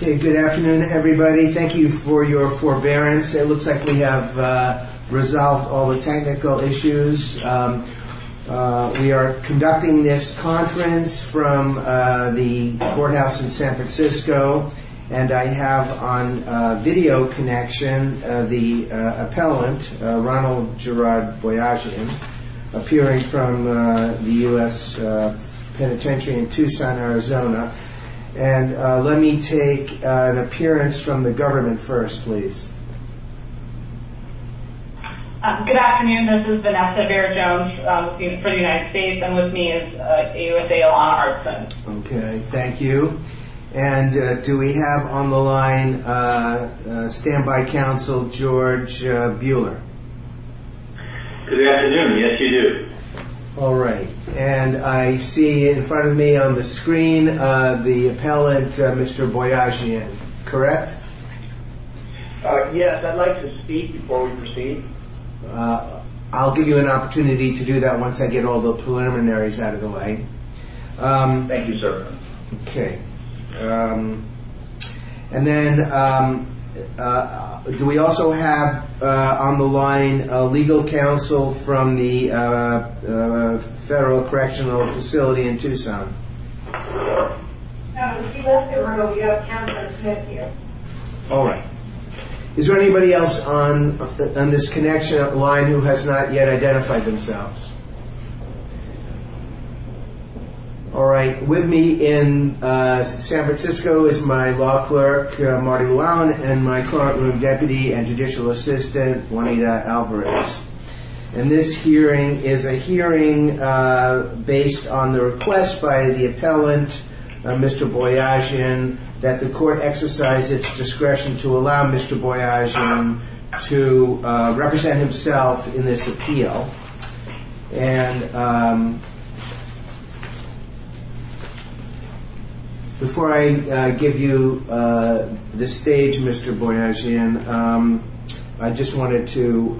Good afternoon, everybody. Thank you for your forbearance. It looks like we have resolved all the technical issues. We are conducting this conference from the courthouse in San Francisco and I have on video connection the appellant, Ronald Gerard Boyajian, appearing from the U.S. Penitentiary in Tucson, Arizona. And let me take an appearance from the government first, please. Vanessa Bear Jones Good afternoon. This is Vanessa Bear Jones for the United States and with me is AUSA Alana Hartson. Ronald Gerard Boyajian Okay, thank you. And do we have on the line stand-by counsel, George Buehler? George Buehler Good afternoon. Yes, you do. Ronald Gerard Boyajian All right. And I see in front of me on the screen the appellant, Mr. Boyajian, correct? George Buehler Yes, I'd like to speak before we proceed. Ronald Gerard Boyajian I'll give you an opportunity to do that once I get all the preliminaries out of the way. George Buehler Thank you, sir. Ronald Gerard Boyajian Okay. And then do we also have on the line legal counsel from the Federal Correctional Facility in Tucson? Vanessa Bear Jones No, she won't be, Ronald. We have counsel sitting here. Ronald Gerard Boyajian All right. Is there anybody else on this connection line who has not yet identified themselves? All right. With me in San Francisco is my law clerk, Marty Llewellyn, and my courtroom deputy and judicial assistant, Juanita Alvarez. And this hearing is a hearing based on the request by the appellant, Mr. Boyajian, that the court exercise its discretion to allow Mr. Boyajian to represent himself in this appeal. And before I give you the stage, Mr. Boyajian, I just wanted to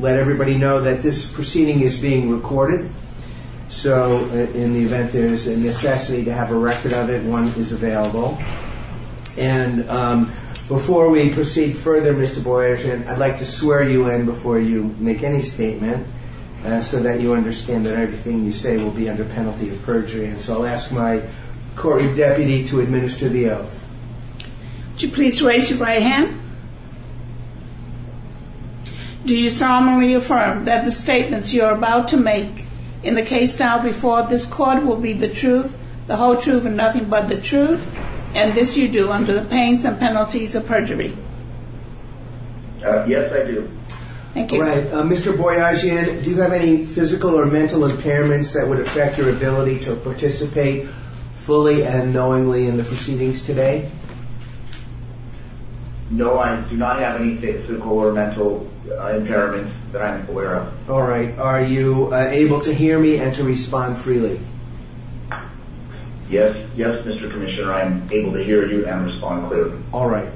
let everybody know that this proceeding is being recorded, so in the event there is a necessity to have a record of it, one is available. And before we proceed further, Mr. Boyajian, I'd like to swear you in before you make any statement so that you understand that everything you say will be under penalty of perjury. And so I'll ask my courtroom deputy to administer the oath. Juanita Alvarez Would you please raise your right hand? Do you solemnly affirm that the statements you are about to make in the case filed before this court will be the truth, the whole truth and nothing but the truth, and this you do under the pains and penalties of perjury? Yes, I do. Thank you. All right. Mr. Boyajian, do you have any physical or mental impairments that would affect your ability to participate fully and knowingly in the proceedings today? No, I do not have any physical or mental impairments that I'm aware of. All right. Are you able to hear me and to respond freely? Yes. Yes, Mr. Commissioner, I'm able to hear you and respond clearly. All right.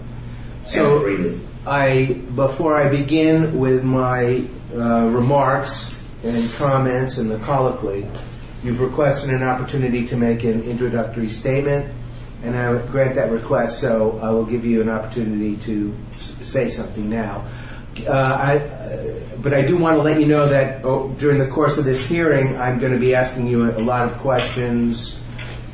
So before I begin with my remarks and comments and the colloquy, you've requested an opportunity to make an introductory statement, and I will grant that request, so I will give you an opportunity to say something now. But I do want to let you know that during the course of this hearing, I'm going to be asking you a lot of questions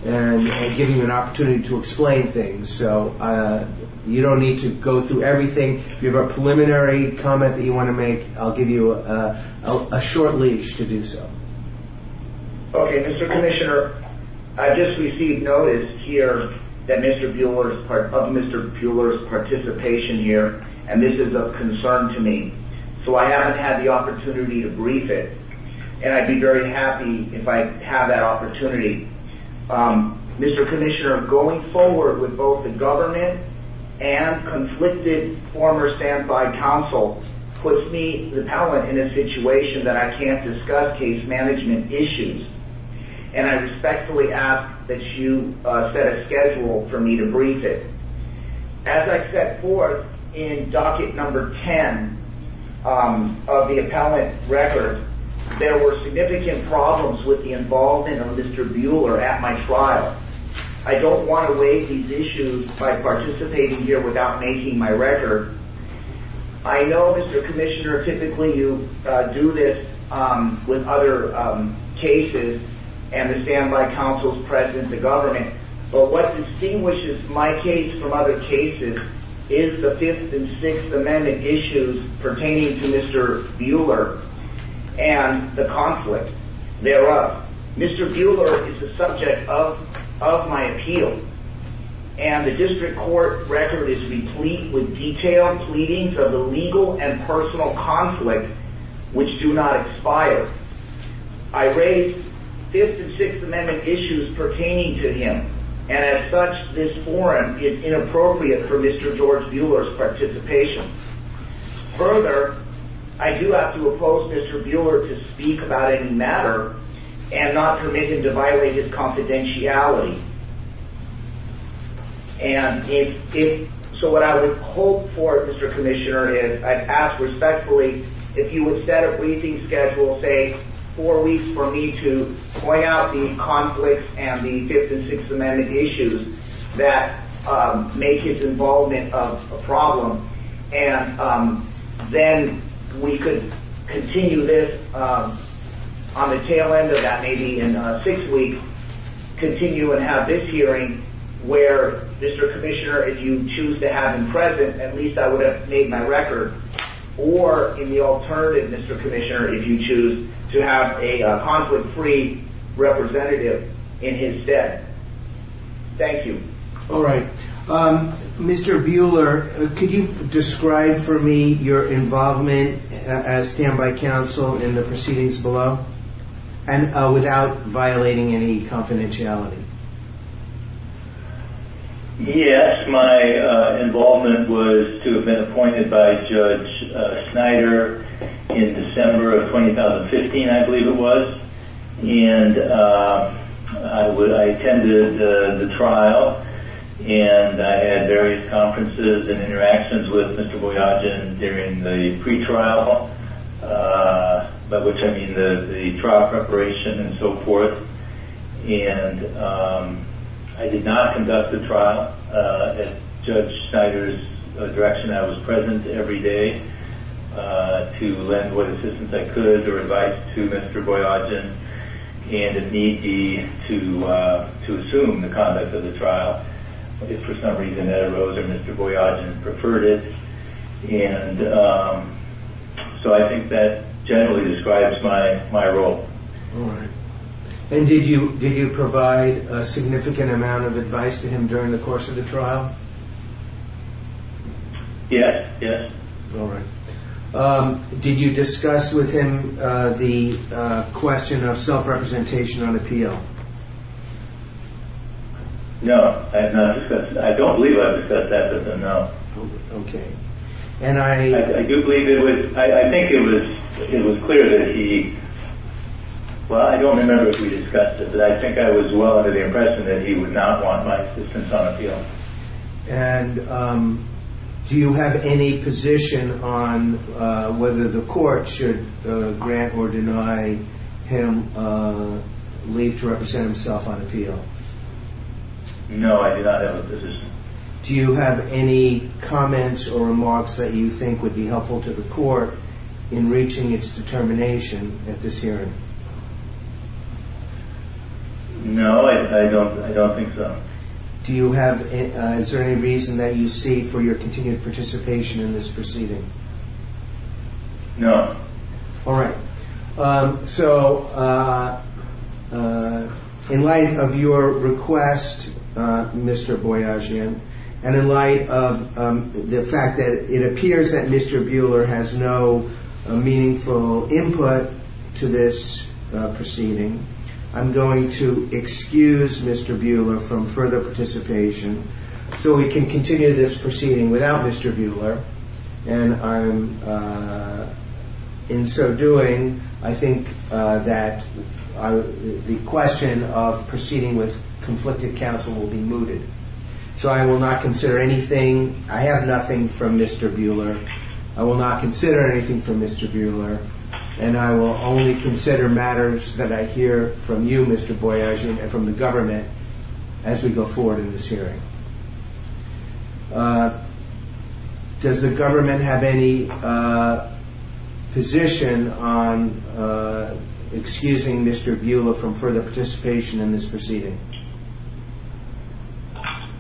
and giving you an opportunity to explain things. So you don't need to go through everything. If you have a preliminary comment that you want to make, I'll give you a short leash to do so. Okay. Mr. Commissioner, I just received notice here of Mr. Bueller's participation here, and this is of concern to me. So I haven't had the opportunity to brief it, and I'd be very happy if I have that opportunity. Mr. Commissioner, going forward with both the government and conflicted former standby counsel puts me, the appellant, in a situation that I can't discuss case management issues, and I respectfully ask that you set a schedule for me to brief it. As I set forth in docket number 10 of the appellant record, there were significant problems with the involvement of Mr. Bueller at my trial. I don't want to weigh these issues by participating here without making my record. I know, Mr. Commissioner, typically you do this with other cases and the standby counsel's presence in government. But what distinguishes my case from other cases is the Fifth and Sixth Amendment issues pertaining to him, and as such, this forum is inappropriate for Mr. George Bueller's participation. Further, I do have to oppose Mr. Bueller to speak about any do not expire. I'm not permitted to violate his confidentiality. And so what I would hope for, Mr. Commissioner, is I'd ask respectfully if you would set a briefing schedule, say four weeks for me to point out the conflicts and the Fifth and Sixth Amendment issues that make his involvement a problem, and then we could continue this discussion in six weeks, continue and have this hearing where, Mr. Commissioner, if you choose to have him present, at least I would have made my record, or in the alternative, Mr. Commissioner, if you choose to have a conflict-free representative in his stead. Thank you. All right. Mr. Bueller, could you describe for me your involvement as standby counsel in the proceedings below, without violating any confidentiality? Yes. My involvement was to have been appointed by Judge Snyder in December of 2015, I believe it was. And I attended the trial, and I had various conferences and interactions with Mr. Boyajian during the pretrial, by which I mean the trial preparation and so forth. And I did not conduct the trial at Judge Snyder's direction. I was present every day to lend what assistance I could or advise to Mr. Boyajian. And it need be to assume the conduct of the trial. It's for some reason that it arose that Mr. Boyajian preferred it. And so I think that generally describes my role. All right. And did you provide a significant amount of advice to him during the course of the trial? Yes. Yes. All right. Did you discuss with him the question of self-representation on appeal? No. I have not discussed it. I don't believe I've discussed that with him, no. Okay. And I do believe it was, I think it was clear that he, well, I don't remember if we discussed it, but I think I was well under the impression that he would not want my assistance on appeal. And do you have any position on whether the court should grant or deny him leave to represent himself on appeal? No, I do not have a position. Do you have any comments or remarks that you think would be helpful to the court in reaching its determination at this hearing? No, I don't think so. Do you have, is there any reason that you see for your continued participation in this proceeding? No. All right. So in light of your request, Mr. Boyajian, and in light of the fact that it appears that Mr. Buhler has no meaningful input to this proceeding, I'm going to excuse Mr. Buhler from further participation so we can continue this proceeding without Mr. Buhler. And in so doing, I think that the question of proceeding with conflicted counsel will be mooted. So I will not consider anything, I have nothing from Mr. Buhler, I will not consider anything from Mr. Buhler, and I will only consider matters that I hear from you, Mr. Boyajian, and from the government as we go forward in this hearing. Does the government have any position on excusing Mr. Buhler from further participation in this proceeding?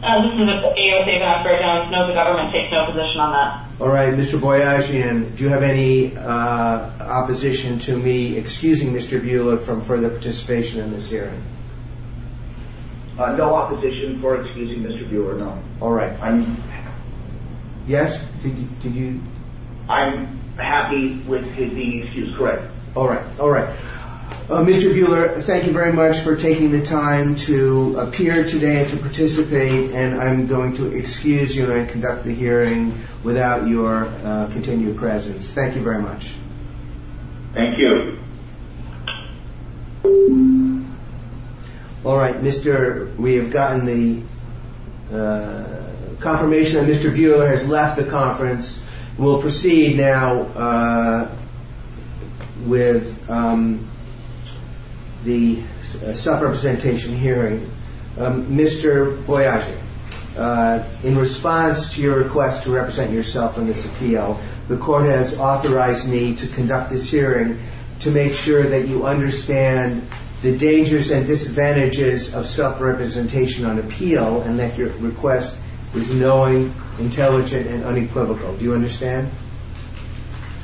No, the government takes no position on that. All right. Mr. Boyajian, do you have any opposition to me excusing Mr. Buhler from further participation in this hearing? No opposition for excusing Mr. Buhler, no. All right. Yes, did you? I'm happy with his being excused, correct. All right, all right. Mr. Buhler, thank you very much for taking the time to appear today and to participate, and I'm going to excuse you and conduct the hearing without your continued presence. Thank you very much. Thank you. All right, we have gotten the confirmation that Mr. Buhler has left the conference. We'll proceed now with the self-representation hearing. Mr. Boyajian, in response to your request to represent yourself on this appeal, the court has authorized me to conduct this hearing to make sure that you understand the dangers and disadvantages of self-representation on appeal and that your request is knowing, intelligent, and unequivocal. Do you understand?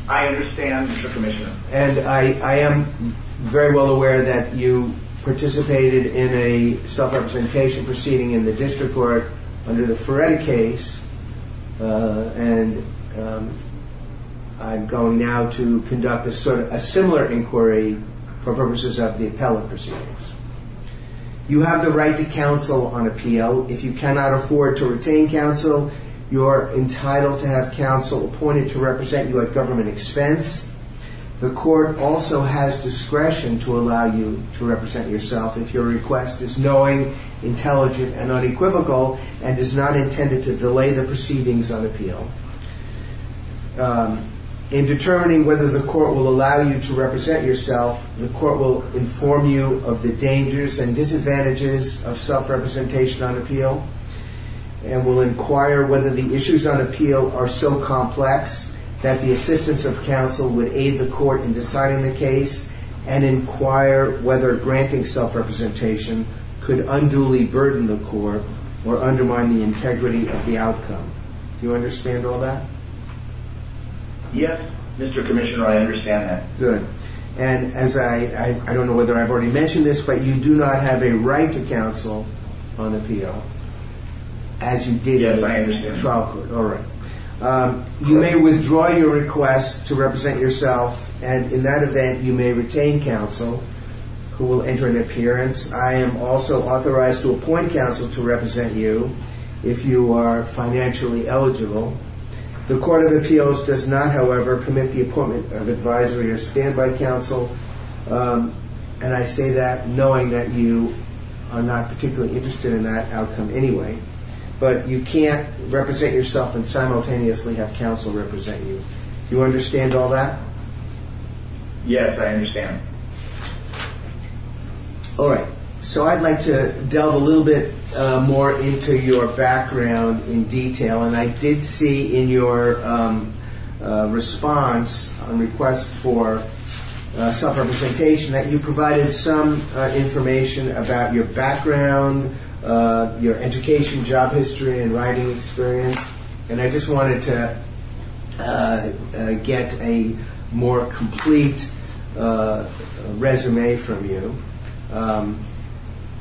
I understand, Mr. Commissioner. And I am very well aware that you participated in a self-representation proceeding in the district court under the Feretti case, and I'm going now to conduct a similar inquiry for purposes of the appellate proceedings. You have the right to counsel on appeal. If you cannot afford to retain counsel, you are entitled to have counsel appointed to represent you at government expense. The court also has discretion to allow you to represent yourself. If your request is knowing, intelligent, and unequivocal, and is not intended to delay the proceedings on appeal. In determining whether the court will allow you to represent yourself, the court will inform you of the dangers and disadvantages of self-representation on appeal, and will inquire whether the issues on appeal are so complex that the assistance of counsel would aid the court in deciding the case, and inquire whether granting self-representation could unduly burden the court or undermine the integrity of the outcome. Do you understand all that? Yes, Mr. Commissioner. I understand that. Good. And as I, I don't know whether I've already mentioned this, but you do not have a right to counsel on appeal, as you did under the trial court. Yes, I understand. All right. You may withdraw your request to represent yourself, and in that event you may retain counsel who will enter an appearance. I am also authorized to appoint counsel to represent you if you are financially eligible. The court of appeals does not, however, permit the appointment of advisory or standby counsel, and I say that knowing that you are not particularly interested in that outcome anyway, but you can't represent yourself and simultaneously have counsel represent you. Do you understand all that? Yes, I understand. All right. So I'd like to delve a little bit more into your background in detail, and I did see in your response, on request for self-representation, that you provided some information about your background, your education, job history, and writing experience, and I just wanted to get a more complete resume from you.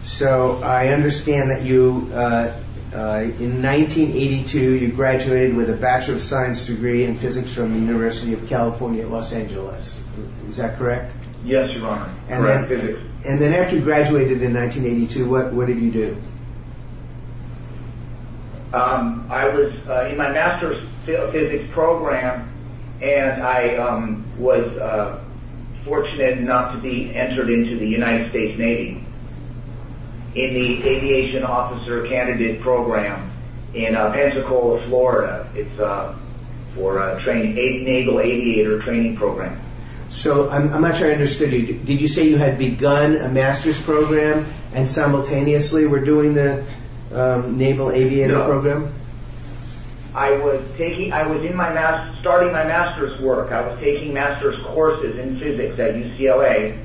So I understand that you, in 1982, you graduated with a Bachelor of Science degree in physics from the University of California, Los Angeles. Is that correct? Yes, Your Honor, correct physics. And then after you graduated in 1982, what did you do? I was in my master's physics program, and I was fortunate enough to be entered into the United States Navy in the aviation officer candidate program in Pensacola, Florida. It's for a naval aviator training program. So I'm not sure I understood you. Did you say you had begun a master's program, and simultaneously were doing the naval aviator program? No. I was starting my master's work. I was taking master's courses in physics at UCLA,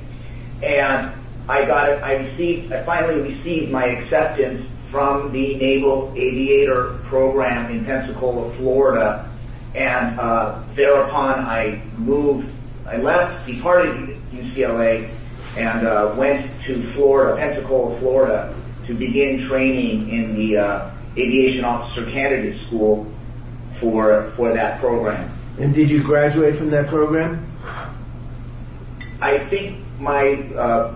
and I finally received my acceptance from the naval aviator program in Pensacola, Florida, and thereupon I left, departed UCLA, and went to Pensacola, Florida to begin training in the aviation officer candidate school for that program. And did you graduate from that program? I think my,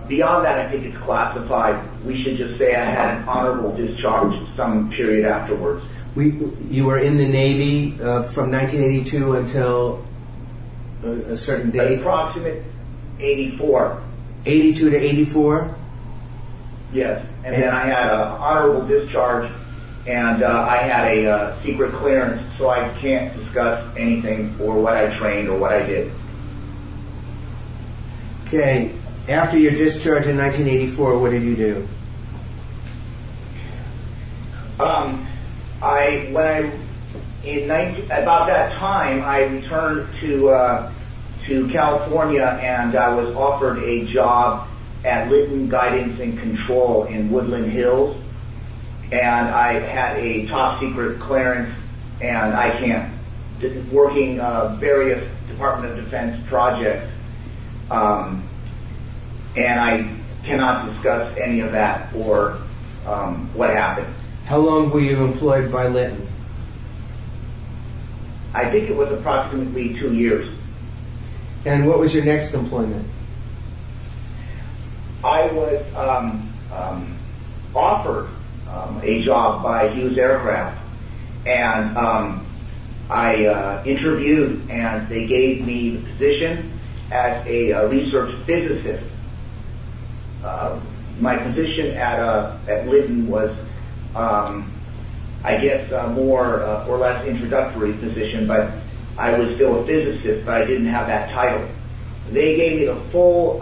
beyond that, I think it's classified. We should just say I had an honorable discharge some period afterwards. You were in the Navy from 1982 until a certain date? Approximate, 84. 82 to 84? Yes. And then I had an honorable discharge, and I had a secret clearance, so I can't discuss anything or what I trained or what I did. Okay. After your discharge in 1984, what did you do? About that time, I returned to California, and I was offered a job at Lytton Guidance and Control in Woodland Hills, and I had a top-secret clearance, and I can't, working various Department of Defense projects, and I cannot discuss any of that or what happened. How long were you employed by Lytton? I think it was approximately two years. And what was your next employment? I was offered a job by Hughes Aircraft, and I interviewed, and they gave me a position as a research physicist. My position at Lytton was, I guess, a more or less introductory position, but I was still a physicist, but I didn't have that title. They gave me the full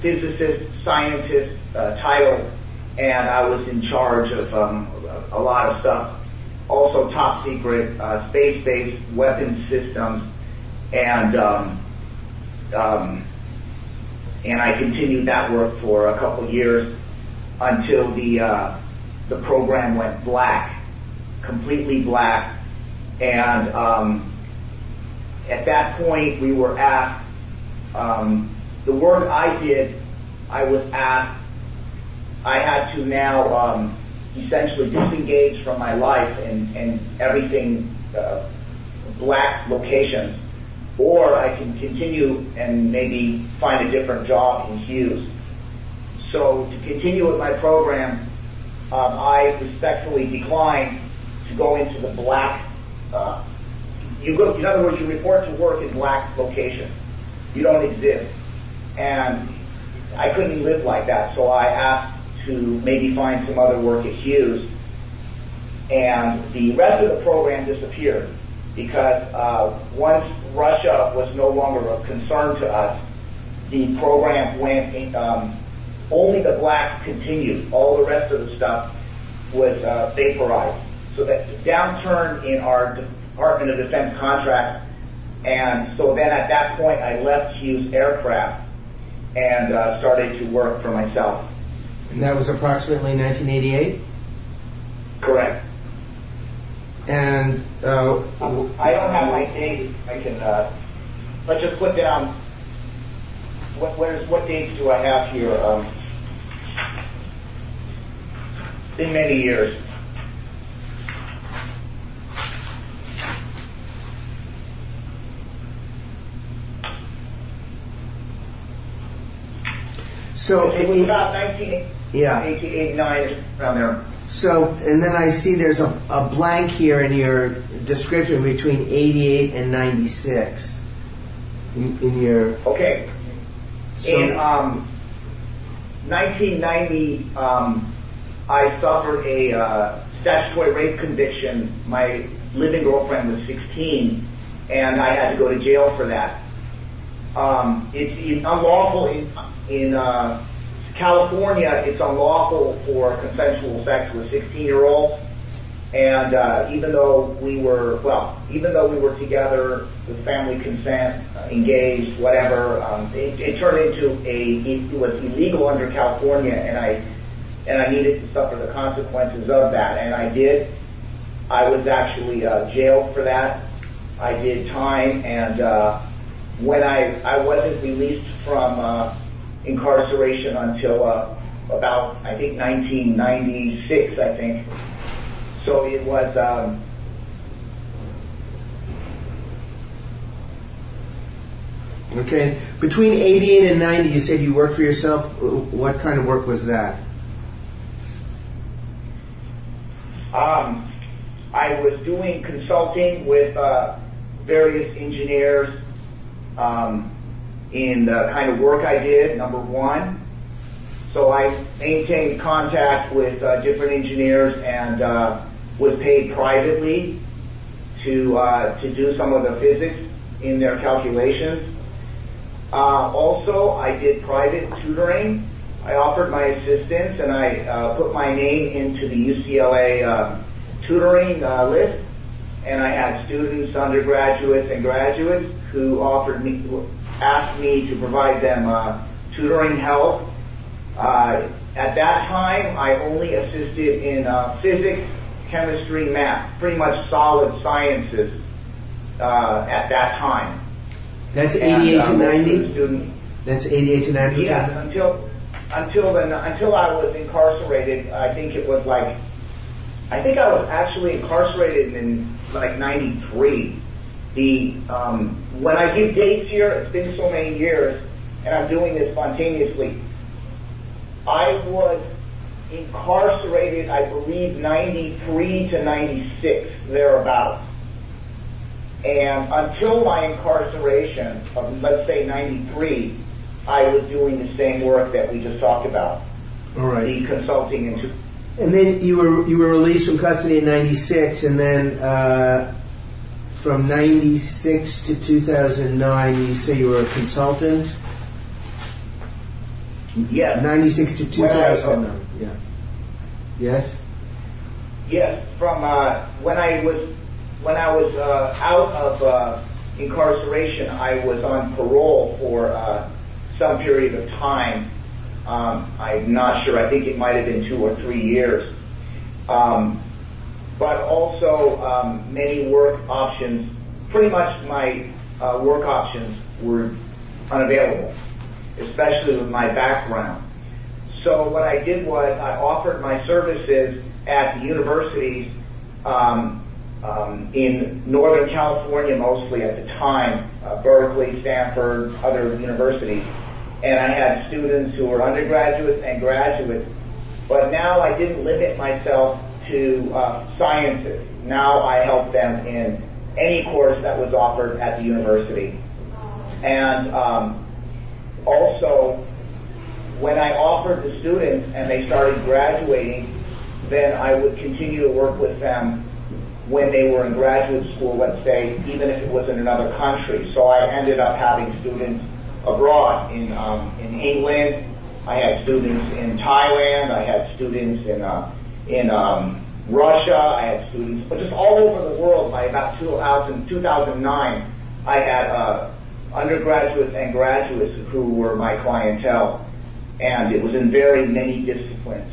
physicist, scientist title, and I was in charge of a lot of stuff, also top-secret space-based weapons systems, and I continued that work for a couple years until the program went black, completely black. And at that point, we were at, the work I did, I was at, I had to now essentially disengage from my life and everything black location, or I can continue and maybe find a different job in Hughes. So, to continue with my program, I respectfully declined to go into the black, in other words, you report to work in black location. You don't exist. And I couldn't live like that, so I asked to maybe find some other work at Hughes, and the rest of the program disappeared, because once Russia was no longer a concern to us, the program went, only the black continued. All the rest of the stuff was vaporized. So the downturn in our Department of Defense contract, and so then at that point, I left Hughes Aircraft and started to work for myself. And that was approximately 1988? Correct. And... I don't have my date. Let's just put down, what date do I have here? In many years. So... It was about 1988, 1989, around there. So, and then I see there's a blank here in your description between 88 and 96. Okay. In 1990, I suffered a statutory rape conviction. My living girlfriend was 16, and I had to go to jail for that. It's unlawful in California, it's unlawful for consensual sex with 16-year-olds, and even though we were, well, even though we were together with family consent, engaged, whatever, it turned into a... It was illegal under California, and I needed to suffer the consequences of that, and I did. I was actually jailed for that. I did time, and I wasn't released from incarceration until about, I think, 1996, I think. So it was... Okay. Between 88 and 90, you said you worked for yourself. What kind of work was that? I was doing consulting with various engineers in the kind of work I did, number one. So I maintained contact with different engineers and was paid privately to do some of the physics in their calculations. Also, I did private tutoring. I offered my assistance, and I put my name into the UCLA tutoring list, and I had students, undergraduates, and graduates who asked me to provide them tutoring help. At that time, I only assisted in physics, chemistry, math, pretty much solid sciences at that time. That's 88 to 90? That's 88 to 90? Yeah, until I was incarcerated, I think it was like... I think I was actually incarcerated in, like, 93. When I give dates here, it's been so many years, and I'm doing this spontaneously. I was incarcerated, I believe, 93 to 96, thereabouts. And until my incarceration of, let's say, 93, I was doing the same work that we just talked about, the consulting and tutoring. And then you were released from custody in 96, and then from 96 to 2009, you say you were a consultant? Yeah. 96 to 2009, yeah. Yes? Yes. When I was out of incarceration, I was on parole for some period of time. I'm not sure. I think it might have been two or three years. But also, many work options, pretty much my work options were unavailable, especially with my background. So what I did was I offered my services at the universities in Northern California, mostly at the time, Berkeley, Stanford, other universities. And I had students who were undergraduates and graduates. But now I didn't limit myself to sciences. Now I help them in any course that was offered at the university. And also, when I offered the students and they started graduating, then I would continue to work with them when they were in graduate school, let's say, even if it was in another country. So I ended up having students abroad, in England. I had students in Taiwan. I had students in Russia. I had students just all over the world. By about 2000, 2009, I had undergraduates and graduates who were my clientele. And it was in very many disciplines.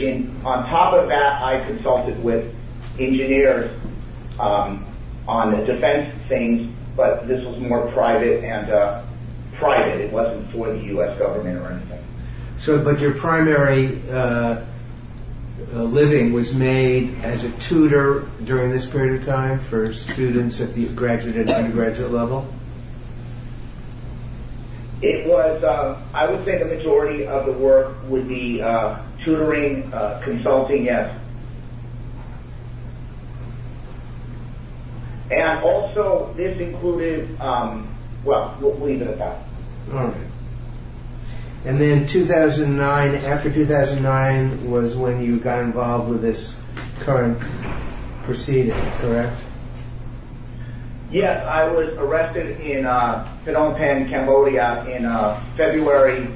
On top of that, I consulted with engineers on the defense things. But this was more private and private. It wasn't for the U.S. government or anything. But your primary living was made as a tutor during this period of time for students at the graduate and undergraduate level? I would say the majority of the work would be tutoring, consulting. And also, this included... Well, we'll leave it at that. And then 2009, after 2009, was when you got involved with this current proceeding, correct? Yes, I was arrested in Phnom Penh, Cambodia in February,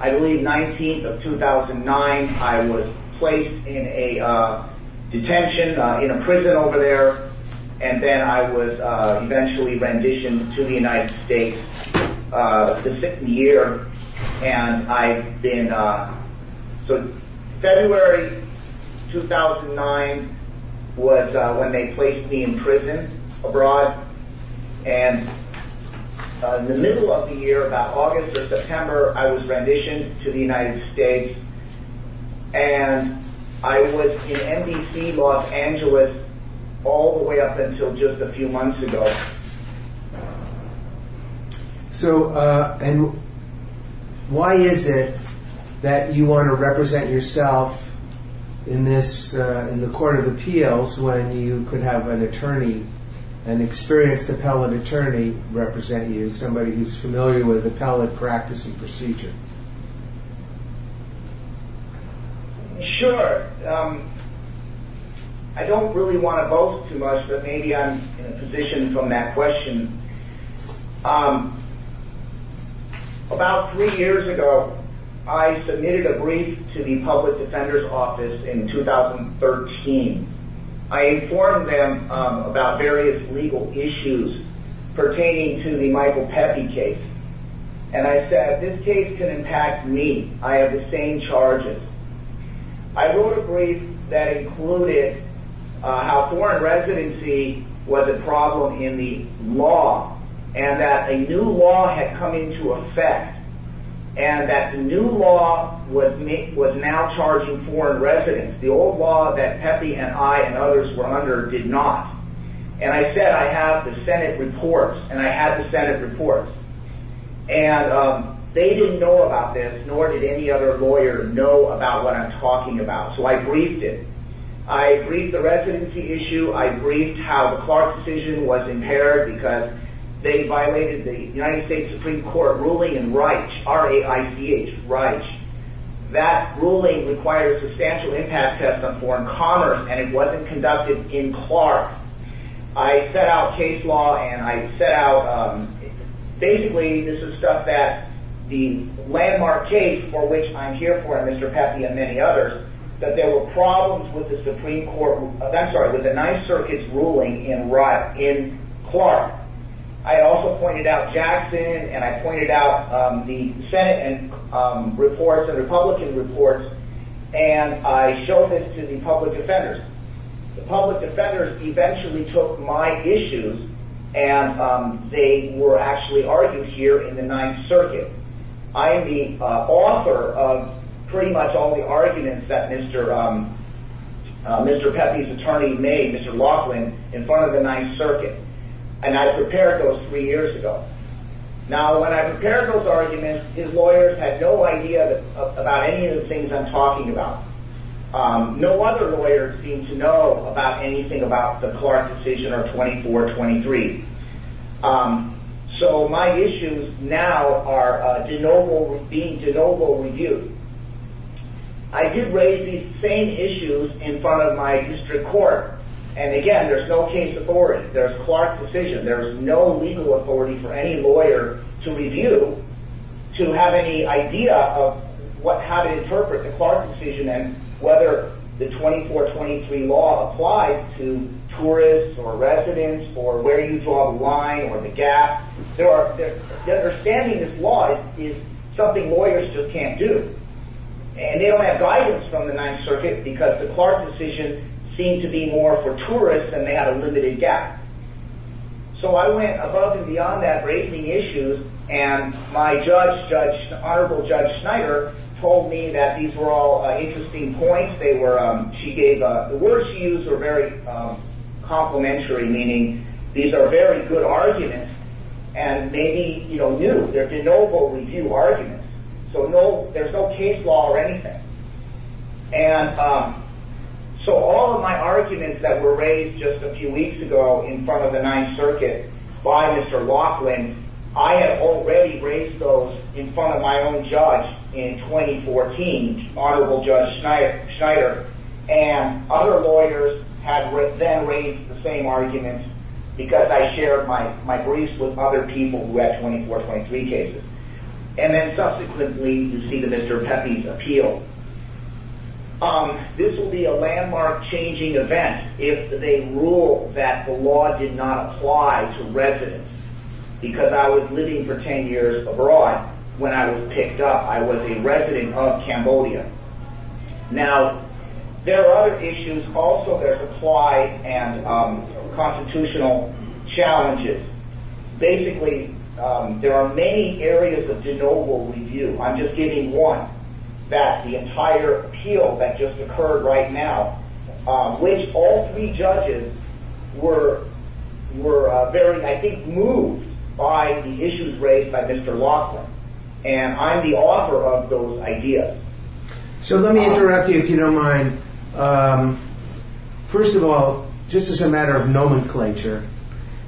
I believe, 19th of 2009. I was placed in a detention, in a prison over there. And then I was eventually renditioned to the United States. The second year, and I've been... So February 2009 was when they placed me in prison abroad. And in the middle of the year, about August or September, I was renditioned to the United States. And I was in NBC, Los Angeles, all the way up until just a few months ago. So, and why is it that you want to represent yourself in this, in the Court of Appeals, when you could have an attorney, an experienced appellate attorney, represent you, somebody who's familiar with appellate practice and procedure? Sure. I don't really want to boast too much, but maybe I'm in a position from that question. About three years ago, I submitted a brief to the Public Defender's Office in 2013. I informed them about various legal issues pertaining to the Michael Pepe case. And I said, this case can impact me. I have the same charges. I wrote a brief that included how foreign residency was a problem in the law, and that a new law had come into effect, and that the new law was now charging foreign residents. The old law that Pepe and I and others were under did not. And I said, I have the Senate reports. And I had the Senate reports. And they didn't know about this, nor did any other lawyer know about what I'm talking about. So I briefed it. I briefed the residency issue. I briefed how the Clark decision was impaired because they violated the United States Supreme Court ruling in REICH, R-A-I-C-H, REICH. That ruling required a substantial impact test on foreign commerce, and it wasn't conducted in Clark. I set out case law, and I set out, basically, this is stuff that the landmark case for which I'm here for, and Mr. Pepe and many others, that there were problems with the Supreme Court, with the Ninth Circuit's ruling in Clark. I also pointed out Jackson, and I pointed out the Senate reports, the Republican reports, and I showed this to the public defenders. The public defenders eventually took my issues, and they were actually argued here in the Ninth Circuit. I am the author of pretty much all the arguments that Mr. Pepe's attorney made, Mr. Laughlin, in front of the Ninth Circuit, and I prepared those three years ago. Now, when I prepared those arguments, his lawyers had no idea about any of the things I'm talking about. No other lawyer seemed to know about anything about the Clark decision or 2423. So my issues now are being de novo reviewed. I did raise these same issues in front of my district court, and again, there's no case authority. There's Clark's decision. There's no legal authority for any lawyer to review to have any idea of how to interpret the Clark decision and whether the 2423 law applies to tourists or residents or where you draw the line or the gap. The understanding of this law is something lawyers just can't do. And they don't have guidance from the Ninth Circuit because the Clark decision seemed to be more for tourists and they had a limited gap. So I went above and beyond that raising issues, and my judge, Honorable Judge Schneider, told me that these were all interesting points. She gave the words she used were very complimentary, meaning these are very good arguments and maybe new. They're de novo review arguments. So there's no case law or anything. And so all of my arguments that were raised just a few weeks ago in front of the Ninth Circuit by Mr. Laughlin, I had already raised those in front of my own judge in 2014, Honorable Judge Schneider, and other lawyers had then raised the same arguments because I shared my briefs with other people who had 2423 cases. And then subsequently you see the Mr. Pepe's appeal. This will be a landmark changing event if they rule that the law did not apply to residents because I was living for 10 years abroad when I was picked up. I was a resident of Cambodia. Now, there are other issues also that apply and constitutional challenges. Basically, there are many areas of de novo review. I'm just giving one that the entire appeal that just occurred right now, which all three judges were very, I think, moved by the issues raised by Mr. Laughlin. And I'm the author of those ideas. So let me interrupt you if you don't mind. First of all, just as a matter of nomenclature,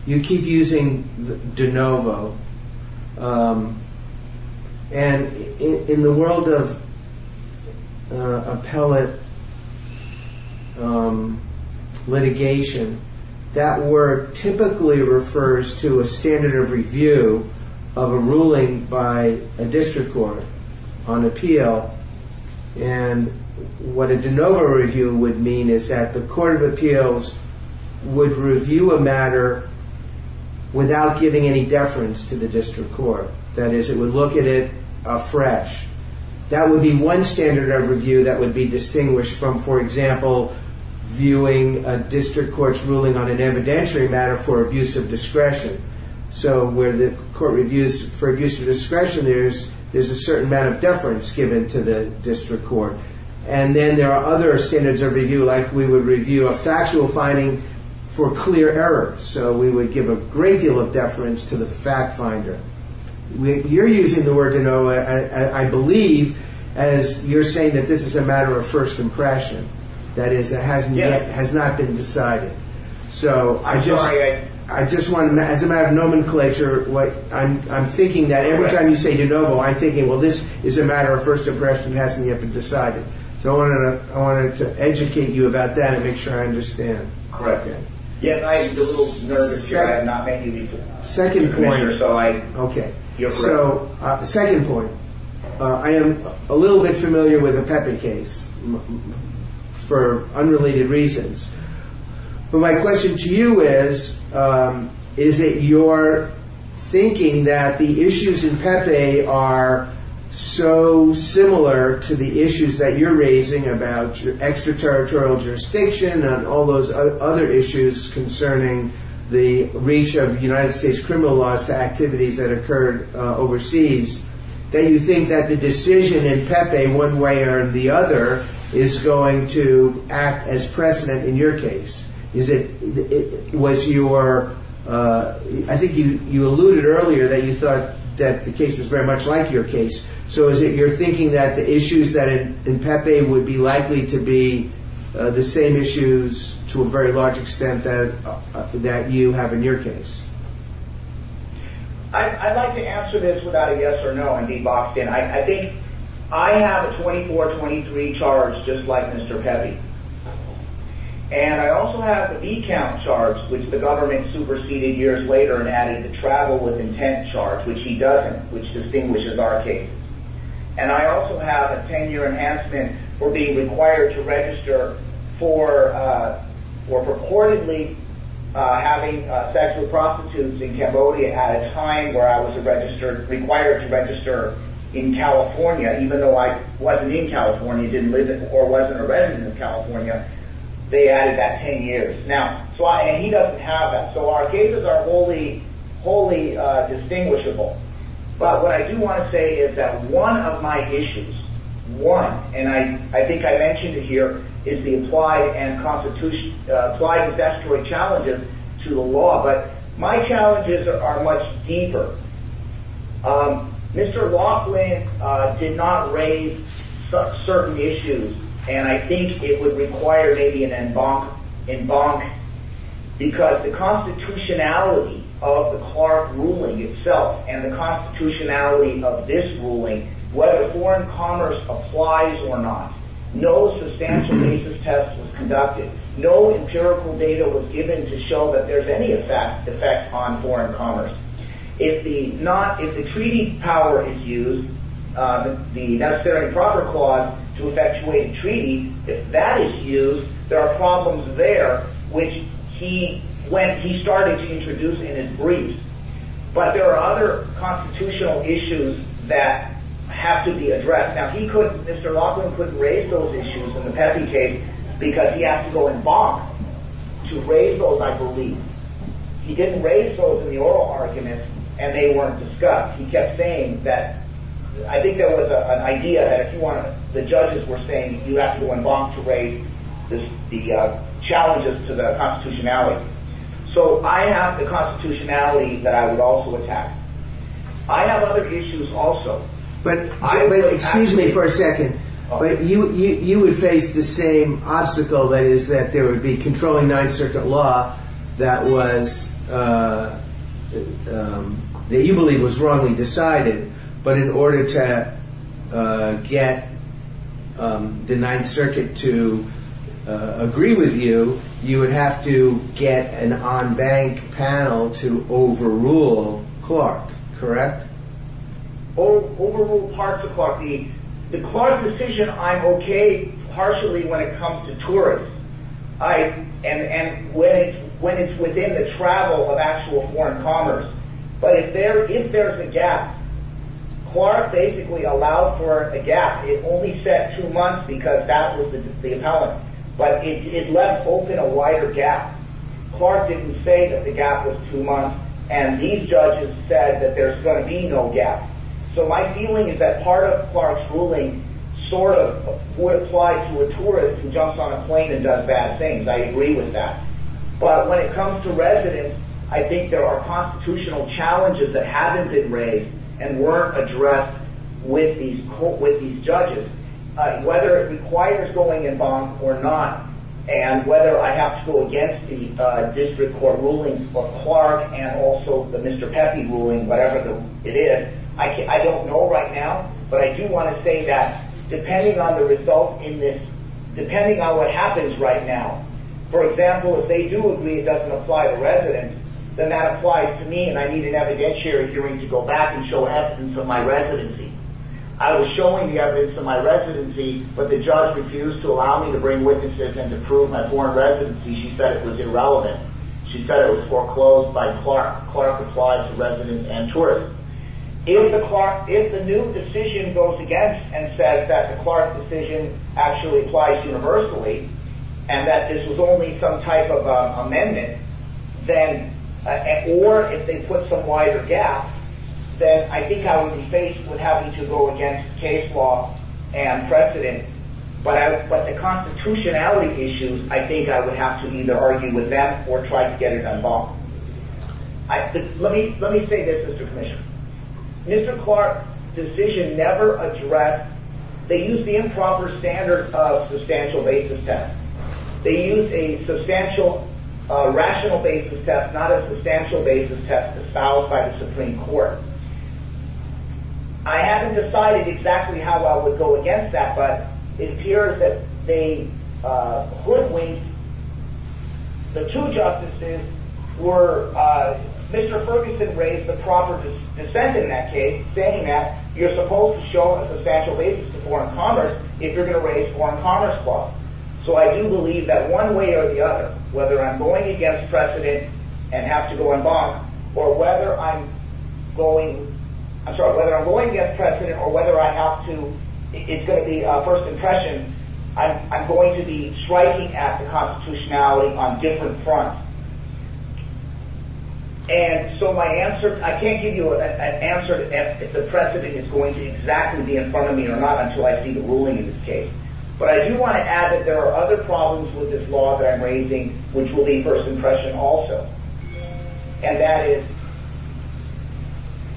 you keep using de novo. And in the world of appellate litigation, that word typically refers to a standard of review of a ruling by a district court on appeal. And what a de novo review would mean is that the court of appeals would review a matter without giving any deference to the district court. That is, it would look at it afresh. That would be one standard of review that would be distinguished from, for example, viewing a district court's ruling on an evidentiary matter for abuse of discretion. So where the court reviews for abuse of discretion, there's a certain amount of deference given to the district court. And then there are other standards of review, like we would review a factual finding for clear error. So we would give a great deal of deference to the fact finder. You're using the word de novo, I believe, as you're saying that this is a matter of first impression. That is, it has not been decided. So as a matter of nomenclature, I'm thinking that every time you say de novo, I'm thinking, well, this is a matter of first impression. It hasn't yet been decided. So I wanted to educate you about that and make sure I understand. Correct. Yes, I'm a little nervous here. I have not met you before. Second point. OK. You're correct. So second point. I am a little bit familiar with the Pepe case for unrelated reasons. But my question to you is, is it your thinking that the issues in Pepe are so similar to the issues that you're raising about extraterritorial jurisdiction and all those other issues concerning the reach of United States criminal laws to activities that occurred overseas that you think that the decision in Pepe, one way or the other, is going to act as precedent in your case? I think you alluded earlier that you thought that the case was very much like your case. So is it your thinking that the issues in Pepe would be likely to be the same issues to a very large extent that you have in your case? I'd like to answer this without a yes or no and be boxed in. I think I have a 24-23 charge just like Mr. Pepe. And I also have the V-count charge, which the government superseded years later and added the travel with intent charge, which he doesn't, which distinguishes our cases. And I also have a 10-year enhancement for being required to register for purportedly having sexual prostitutes in Cambodia at a time where I was required to register in California, even though I wasn't in California, didn't live there or wasn't a resident of California. They added that 10 years. And he doesn't have that. So our cases are wholly distinguishable. But what I do want to say is that one of my issues, one, and I think I mentioned it here, is the implied and testamentary challenges to the law. But my challenges are much deeper. Mr. Laughlin did not raise certain issues, and I think it would require maybe an embankment because the constitutionality of the Clark ruling itself and the constitutionality of this ruling, whether foreign commerce applies or not, no substantial basis test was conducted. No empirical data was given to show that there's any effect on foreign commerce. If the treaty power is used, the necessary and proper clause to effectuate a treaty, if that is used, there are problems there which he started to introduce in his briefs. But there are other constitutional issues that have to be addressed. Now, Mr. Laughlin couldn't raise those issues in the Pesky case because he had to go in box to raise those, I believe. He didn't raise those in the oral arguments, and they weren't discussed. He kept saying that... I think there was an idea that if you want to... the judges were saying you have to go in box to raise the challenges to the constitutionality. So I have the constitutionality that I would also attack. I have other issues also. But, excuse me for a second, but you would face the same obstacle that is that there would be controlling Ninth Circuit law that was... that you believe was wrongly decided, but in order to get the Ninth Circuit to agree with you, you would have to get an on-bank panel to overrule Clark, correct? Overrule parts of Clark. The Clark decision, I'm okay partially when it comes to tourists. And when it's within the travel of actual foreign commerce. But if there's a gap, Clark basically allowed for a gap. It only set two months because that was the appellant. But it left open a wider gap. Clark didn't say that the gap was two months, and these judges said that there's going to be no gap. So my feeling is that part of Clark's ruling sort of would apply to a tourist who jumps on a plane and does bad things. I agree with that. But when it comes to residents, I think there are constitutional challenges that haven't been raised and weren't addressed with these judges. Whether it requires going in bond or not, and whether I have to go against the district court ruling for Clark and also the Mr. Peffy ruling, whatever it is, I don't know right now. But I do want to say that depending on the result in this, depending on what happens right now, for example, if they do agree that it doesn't apply to residents, then that applies to me, and I need an evidence hearing to go back and show evidence of my residency. I was showing the evidence of my residency, but the judge refused to allow me to bring witnesses and to prove my foreign residency. She said it was irrelevant. She said it was foreclosed by Clark. Clark applied to residents and tourists. If the new decision goes against and says that the Clark decision actually applies universally, and that this was only some type of amendment, or if they put some wider gap, then I think I would be faced with having to go against case law and precedent. But the constitutionality issues, I think I would have to either argue with them or try to get it unbond. Let me say this, Mr. Commissioner. Mr. Clark's decision never addressed, they used the improper standard of substantial basis test. They used a substantial rational basis test, not a substantial basis test disavowed by the Supreme Court. I haven't decided exactly how I would go against that, but it appears that they could wait. The two justices were, Mr. Ferguson raised the proper dissent in that case, saying that you're supposed to show a substantial basis to foreign commerce if you're going to raise foreign commerce law. So I do believe that one way or the other, whether I'm going against precedent and have to go unbond, or whether I'm going against precedent or whether I have to, it's going to be a first impression, I'm going to be striking at the constitutionality on different fronts. And so my answer, I can't give you an answer if the precedent is going to exactly be in front of me or not until I see the ruling in this case. But I do want to add that there are other problems with this law that I'm raising which will be a first impression also. And that is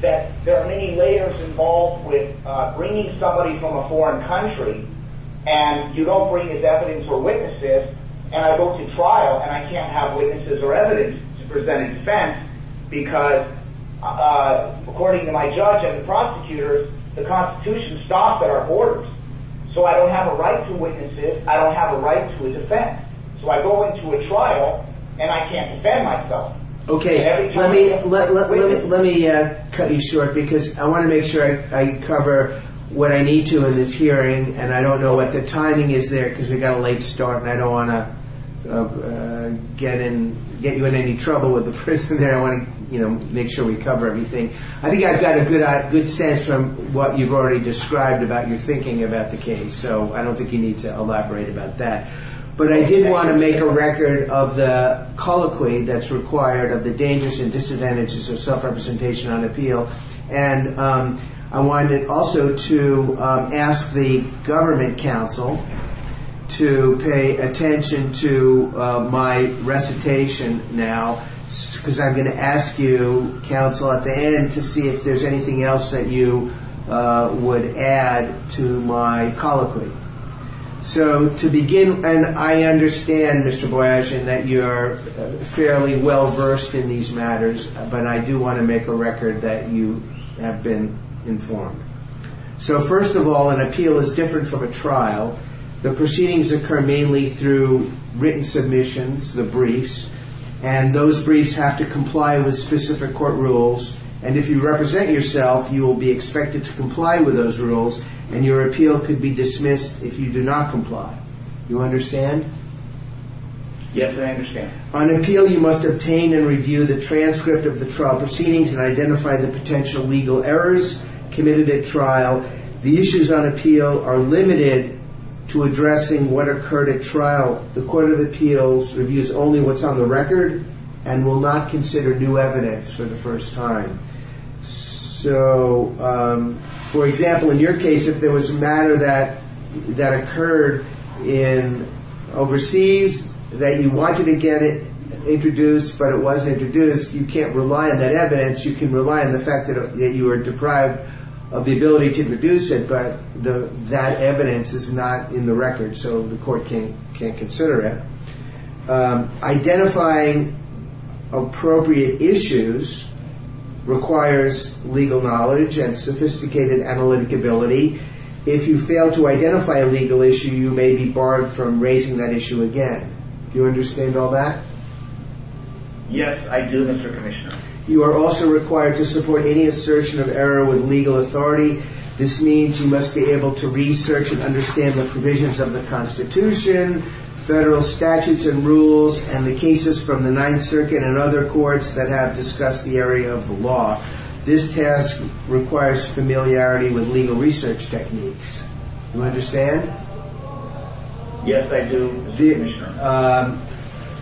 that there are many layers involved with bringing somebody from a foreign country and you don't bring as evidence or witnesses and I go to trial and I can't have witnesses or evidence to present a defense because according to my judge and the prosecutors, the constitution stops at our borders. So I don't have a right to witnesses, I don't have a right to a defense. So I go into a trial and I can't defend myself. Okay, let me cut you short because I want to make sure I cover what I need to in this hearing and I don't know what the timing is there because we've got a late start and I don't want to get you in any trouble with the prison there. I want to make sure we cover everything. I think I've got a good sense from what you've already described about your thinking about the case so I don't think you need to elaborate about that. But I did want to make a record of the colloquy that's required of the dangers and disadvantages of self-representation on appeal and I wanted also to ask the government counsel to pay attention to my recitation now because I'm going to ask you, counsel, at the end to see if there's anything else that you would add to my colloquy. So to begin, and I understand, Mr. Boyajian, that you're fairly well versed in these matters but I do want to make a record that you have been informed. So first of all, an appeal is different from a trial. The proceedings occur mainly through written submissions, the briefs, and those briefs have to comply with specific court rules and if you represent yourself, you will be expected to comply with those rules and your appeal could be dismissed if you do not comply. Do you understand? Yes, I understand. On appeal, you must obtain and review the transcript of the trial proceedings and identify the potential legal errors committed at trial. The issues on appeal are limited to addressing what occurred at trial. The Court of Appeals reviews only what's on the record and will not consider new evidence for the first time. So, for example, in your case, if there was a matter that occurred overseas that you wanted to get it introduced but it wasn't introduced, you can't rely on that evidence. You can rely on the fact that you were deprived of the ability to produce it but that evidence is not in the record so the court can't consider it. Identifying appropriate issues requires legal knowledge and sophisticated analytic ability. If you fail to identify a legal issue, you may be barred from raising that issue again. Do you understand all that? Yes, I do, Mr. Commissioner. You are also required to support any assertion of error with legal authority. This means you must be able to research and understand the provisions of the Constitution, federal statutes and rules, and the cases from the Ninth Circuit and other courts that have discussed the area of the law. This task requires familiarity with legal research techniques. Do you understand? Yes, I do, Mr. Commissioner.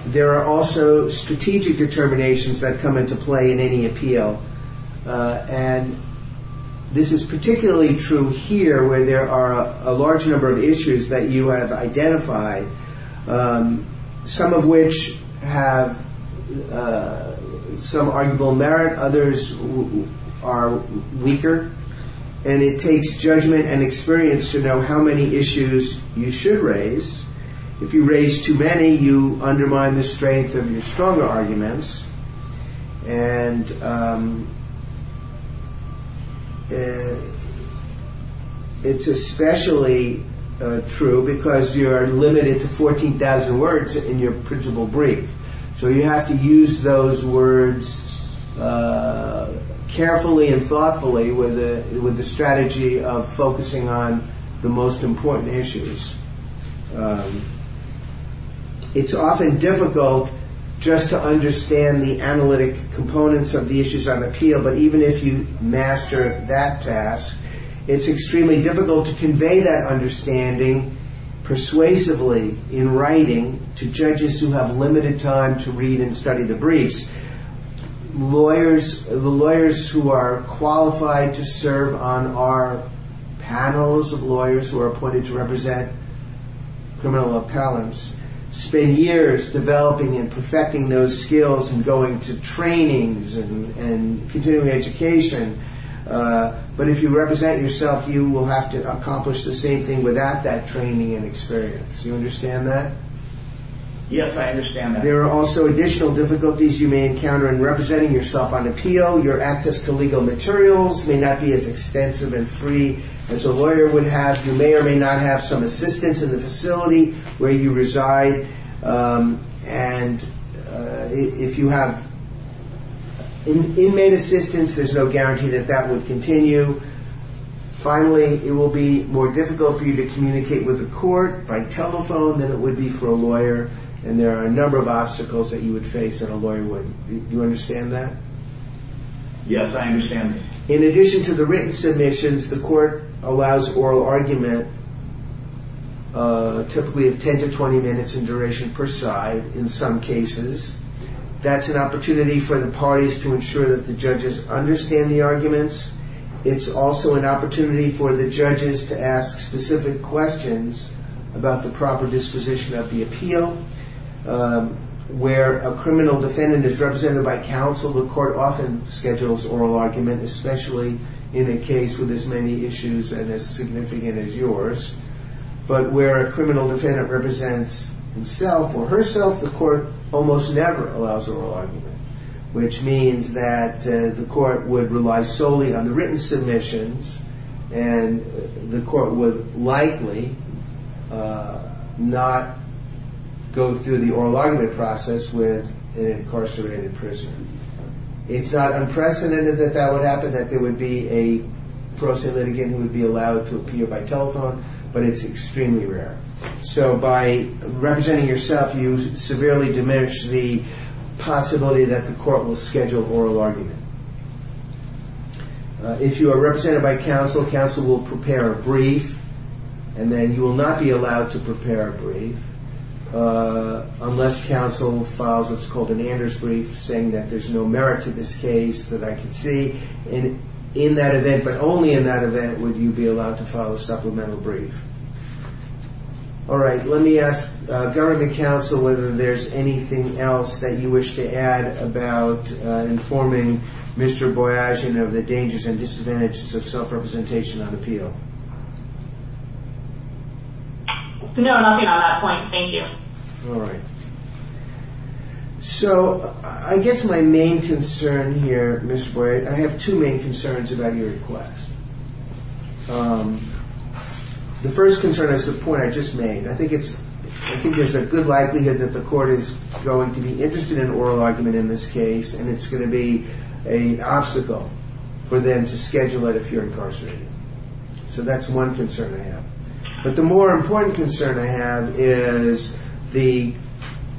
There are also strategic determinations that come into play in any appeal. And this is particularly true here where there are a large number of issues that you have identified, some of which have some arguable merit, others are weaker, and it takes judgment and experience to know how many issues you should raise. If you raise too many, you undermine the strength of your stronger arguments. And it's especially true because you are limited to 14,000 words in your principal brief. So you have to use those words carefully and thoughtfully with the strategy of focusing on the most important issues. It's often difficult just to understand the analytic components of the issues on appeal, but even if you master that task, it's extremely difficult to convey that understanding persuasively in writing to judges who have limited time to read and study the briefs. The lawyers who are qualified to serve on our panels and those of lawyers who are appointed to represent criminal appellants spend years developing and perfecting those skills and going to trainings and continuing education. But if you represent yourself, you will have to accomplish the same thing without that training and experience. Do you understand that? Yes, I understand that. There are also additional difficulties you may encounter in representing yourself on appeal. Your access to legal materials may not be as extensive and free as a lawyer would have. You may or may not have some assistance in the facility where you reside. And if you have inmate assistance, there's no guarantee that that would continue. Finally, it will be more difficult for you to communicate with the court by telephone than it would be for a lawyer, and there are a number of obstacles that you would face that a lawyer wouldn't. Do you understand that? Yes, I understand that. In addition to the written submissions, the court allows oral argument, typically of 10 to 20 minutes in duration per side in some cases. That's an opportunity for the parties to ensure that the judges understand the arguments. It's also an opportunity for the judges to ask specific questions about the proper disposition of the appeal. Where a criminal defendant is represented by counsel, the court often schedules oral argument, especially in a case with as many issues and as significant as yours. But where a criminal defendant represents himself or herself, the court almost never allows oral argument, which means that the court would rely solely on the written submissions, and the court would likely not go through the oral argument process with an incarcerated prisoner. It's not unprecedented that that would happen, that there would be a pro se litigant who would be allowed to appear by telephone, but it's extremely rare. So by representing yourself, you severely diminish the possibility that the court will schedule oral argument. If you are represented by counsel, counsel will prepare a brief, and then you will not be allowed to prepare a brief unless counsel files what's called an Anders brief saying that there's no merit to this case, that I can see. In that event, but only in that event, would you be allowed to file a supplemental brief. All right, let me ask government counsel whether there's anything else that you wish to add about informing Mr. Boyajian of the dangers and disadvantages of self-representation on appeal. No, nothing on that point, thank you. All right. So I guess my main concern here, Mr. Boyajian, I have two main concerns about your request. The first concern is the point I just made. I think there's a good likelihood that the court is going to be interested in oral argument in this case, and it's going to be an obstacle for them to schedule it if you're incarcerated. But the more important concern I have is the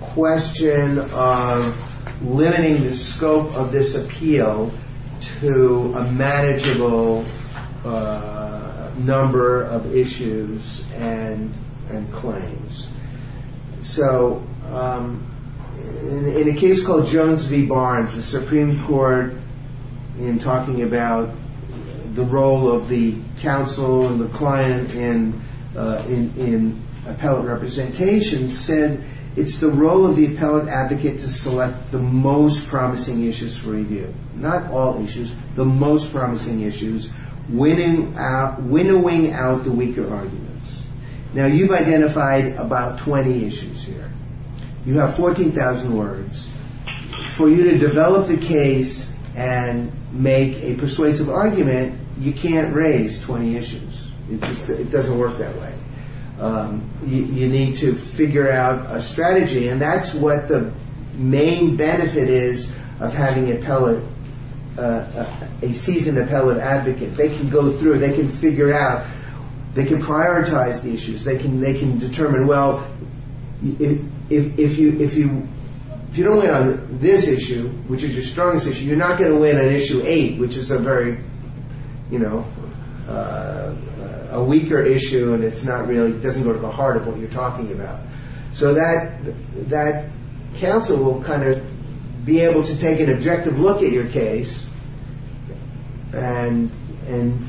question of limiting the scope of this appeal to a manageable number of issues and claims. So in a case called Jones v. Barnes, the Supreme Court, in talking about the role of the counsel and the client in appellate representation, said it's the role of the appellate advocate to select the most promising issues for review. Not all issues, the most promising issues, winnowing out the weaker arguments. Now, you've identified about 20 issues here. You have 14,000 words. For you to develop the case and make a persuasive argument, you can't raise 20 issues. It doesn't work that way. You need to figure out a strategy, and that's what the main benefit is of having a seasoned appellate advocate. They can go through, they can figure out, they can prioritize the issues, they can determine, well, if you don't win on this issue, which is your strongest issue, you're not going to win on issue eight, which is a very, you know, a weaker issue, and it's not really, it doesn't go to the heart of what you're talking about. So that counsel will kind of be able to take an objective look at your case and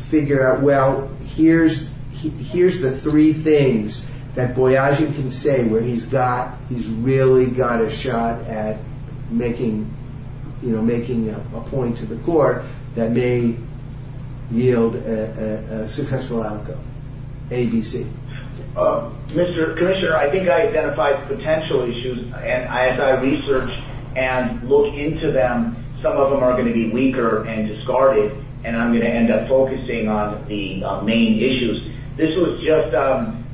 figure out, well, here's the three things that Boyagi can say where he's got, he's got a shot at making, you know, making a point to the court that may yield a successful outcome. A, B, C. Mr. Commissioner, I think I identified potential issues, and as I research and look into them, some of them are going to be weaker and discarded, and I'm going to end up focusing on the main issues. This was just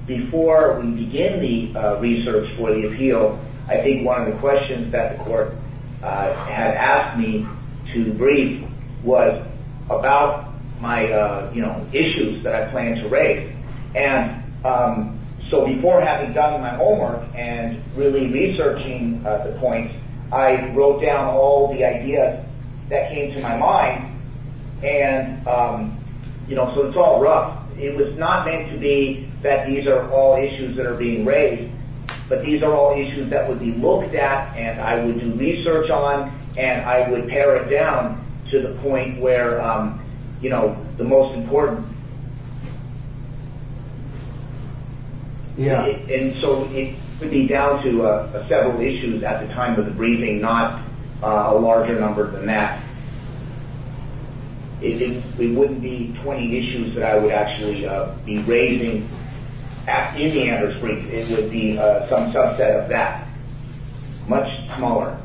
before we began the research for the appeal. So I think one of the questions that the court had asked me to brief was about my, you know, issues that I plan to raise. And so before having done my homework and really researching the points, I wrote down all the ideas that came to my mind, and, you know, so it's all rough. It was not meant to be that these are all issues that are being raised, but these are all issues that would be looked at and I would do research on, and I would pare it down to the point where, you know, the most important. And so it would be down to several issues at the time of the briefing, not a larger number than that. It wouldn't be 20 issues that I would actually be raising at the Indianapolis brief. It would be some subset of that, much smaller.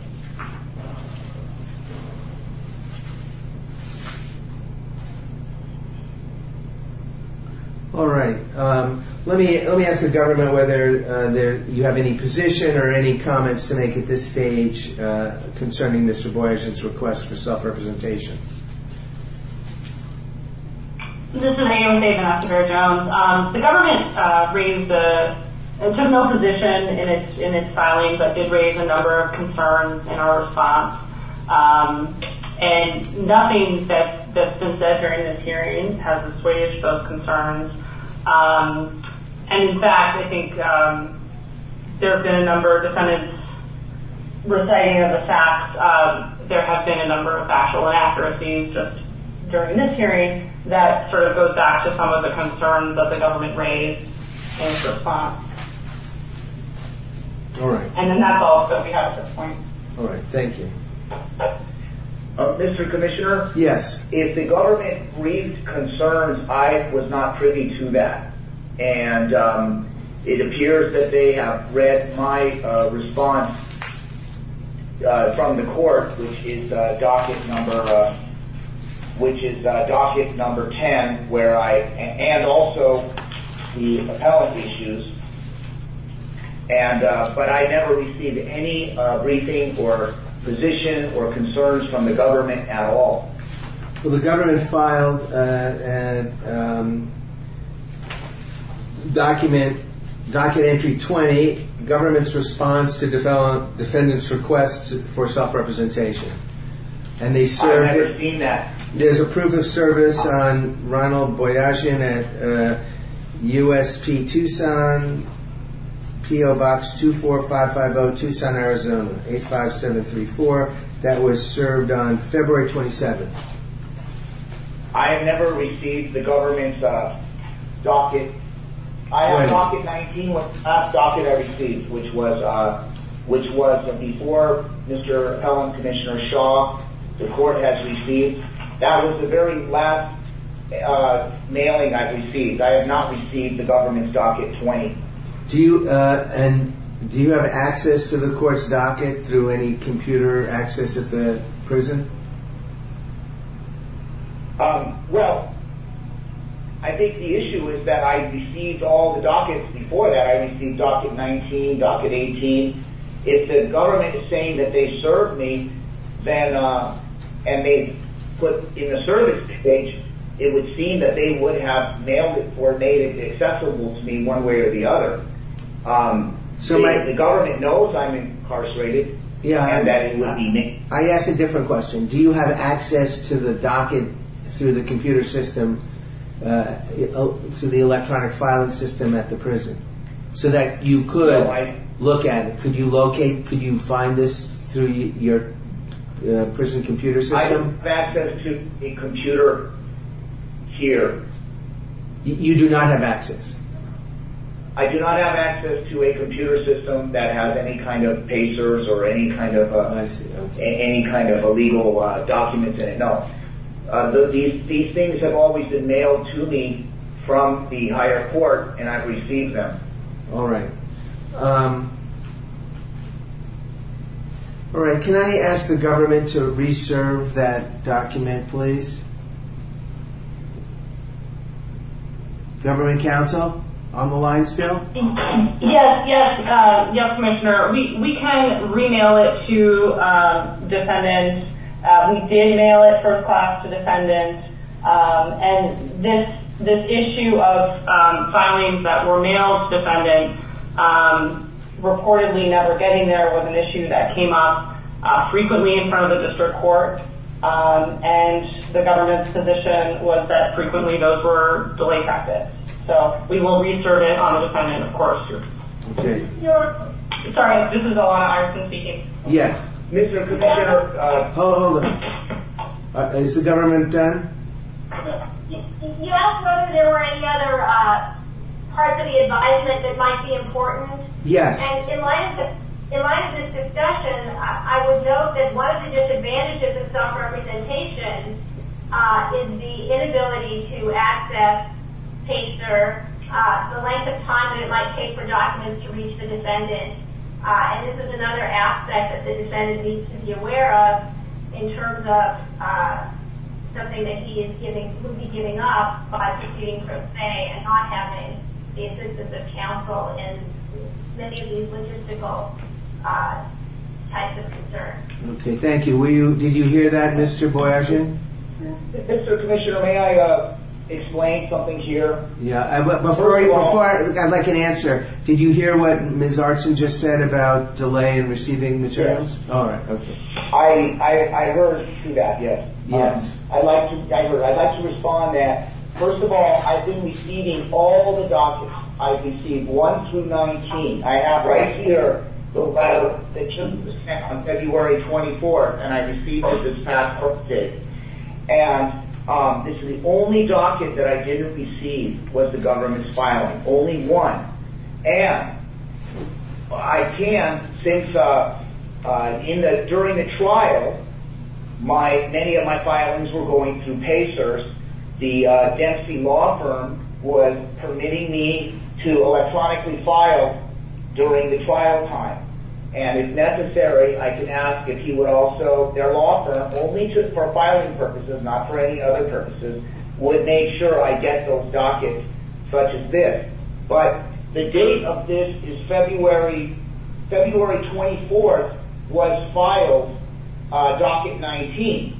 All right. Let me ask the government whether you have any position or any comments to make at this stage concerning Mr. Boyer's request for self-representation. This is Amy David-Essinger-Jones. The government raised a general position in its filing that did raise a number of concerns in our response, and nothing that's been said during this hearing has assuaged those concerns. And, in fact, I think there have been a number of defendants reciting of the facts. There have been a number of factual inaccuracies just during this hearing. That sort of goes back to some of the concerns that the government raised in response. All right. And then that's all that we have at this point. All right. Thank you. Mr. Commissioner? Yes. If the government raised concerns, I was not privy to that. And it appears that they have read my response from the court, which is docket number 10, and also the appellant issues. But I never received any briefing or position or concerns from the government at all. Well, the government filed a document, Docket Entry 20, the government's response to defendants' requests for self-representation. I've never seen that. There's a proof of service on Ronald Boyajian at USP Tucson, P.O. Box 24550, Tucson, Arizona, 85734, that was served on February 27th. I have never received the government's docket. I have docket 19, which is the docket I received, which was before Mr. Appellant Commissioner Shaw, the court has received. That was the very last mailing I received. I have not received the government's docket 20. Do you have access to the court's docket through any computer access at the prison? Well, I think the issue is that I've received all the dockets before that. I received docket 19, docket 18. If the government is saying that they served me, and they put in the service stage, it would seem that they would have mailed it or made it accessible to me one way or the other. If the government knows I'm incarcerated, and that it would be me. I ask a different question. Do you have access to the docket through the computer system, through the electronic filing system at the prison, so that you could look at it? Could you locate, could you find this through your prison computer system? I have access to a computer here. You do not have access? I do not have access to a computer system that has any kind of pagers or any kind of legal documents in it. No. These things have always been mailed to me from the higher court, and I've received them. All right. Can I ask the government to reserve that document, please? Government counsel on the line still? Yes, yes, yes, Commissioner. We can re-mail it to defendants. We did mail it first class to defendants, and this issue of filings that were mailed to defendants, reportedly never getting there was an issue that came up frequently in front of the district court, and the government's position was that frequently those were delayed practice. So we will reserve it on a defendant, of course. Okay. Sorry, this is Alana Iverson speaking. Yes. Mr. Commissioner. Hold on, hold on. Is the government done? You asked whether there were any other parts of the advisement that might be important. Yes. And in light of this discussion, I would note that one of the disadvantages of self-representation is the inability to access the length of time that it might take for documents to reach the defendant, and this is another aspect that the defendant needs to be aware of in terms of something that he would be giving up by proceeding from say and not having the assistance of counsel in many of these logistical types of concerns. Okay, thank you. Did you hear that, Mr. Boyajian? Mr. Commissioner, may I explain something here? Yeah, I'd like an answer. Did you hear what Ms. Artson just said about delay in receiving materials? Yes. All right, okay. I heard that, yes. I'd like to respond that, first of all, I've been receiving all the documents. I've received one through 19. I have right here the letter that you sent on February 24th, and I received it this past Thursday. And this is the only docket that I didn't receive was the government's filing, only one. And I can, since during the trial, many of my filings were going through PACERS, the Dempsey law firm was permitting me to electronically file during the trial time. And if necessary, I can ask if he would also, their law firm, only for filing purposes, not for any other purposes, would make sure I get those dockets such as this. But the date of this is February 24th was filed docket 19.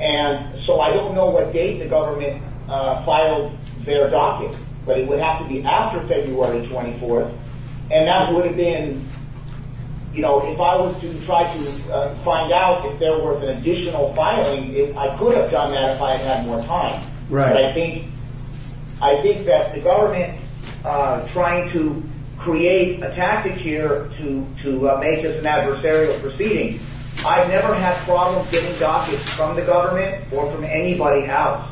And so I don't know what date the government filed their docket, but it would have to be after February 24th, and that would have been, you know, if I was to try to find out if there was an additional filing, I could have done that if I had more time. But I think that the government trying to create a tactic here to make this an adversarial proceeding, I've never had problems getting dockets from the government or from anybody else.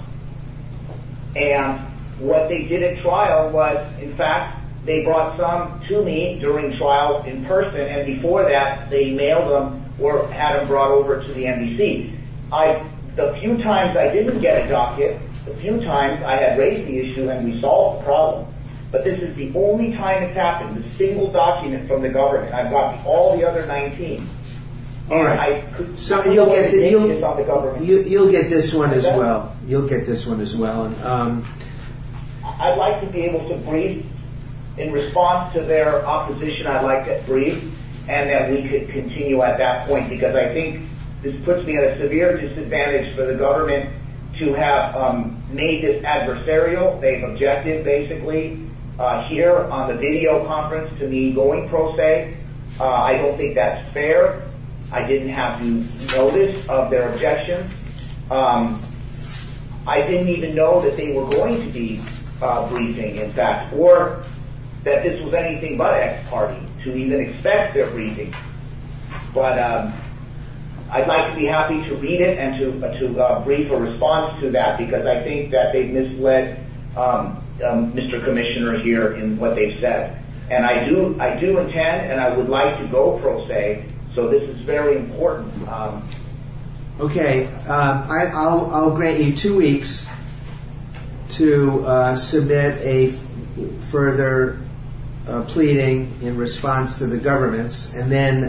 And what they did at trial was, in fact, they brought some to me during trial in person, and before that they mailed them or had them brought over to the NBC. The few times I didn't get a docket, the few times I had raised the issue and we solved the problem. But this is the only time it's happened, a single document from the government. I've got all the other 19. So you'll get this one as well. You'll get this one as well. I'd like to be able to breathe. In response to their opposition, I'd like to breathe and that we could continue at that point, because I think this puts me at a severe disadvantage for the government to have made this adversarial. They've objected, basically, here on the video conference to the ongoing pro se. I don't think that's fair. I didn't have to notice of their objections. I didn't even know that they were going to be breathing, in fact, or that this was anything but ex parte, to even expect their breathing. But I'd like to be happy to read it and to brief a response to that, because I think that they've misled Mr. Commissioner here in what they've said. And I do intend and I would like to go pro se, so this is very important. Okay. I'll grant you two weeks to submit a further pleading in response to the governments. And then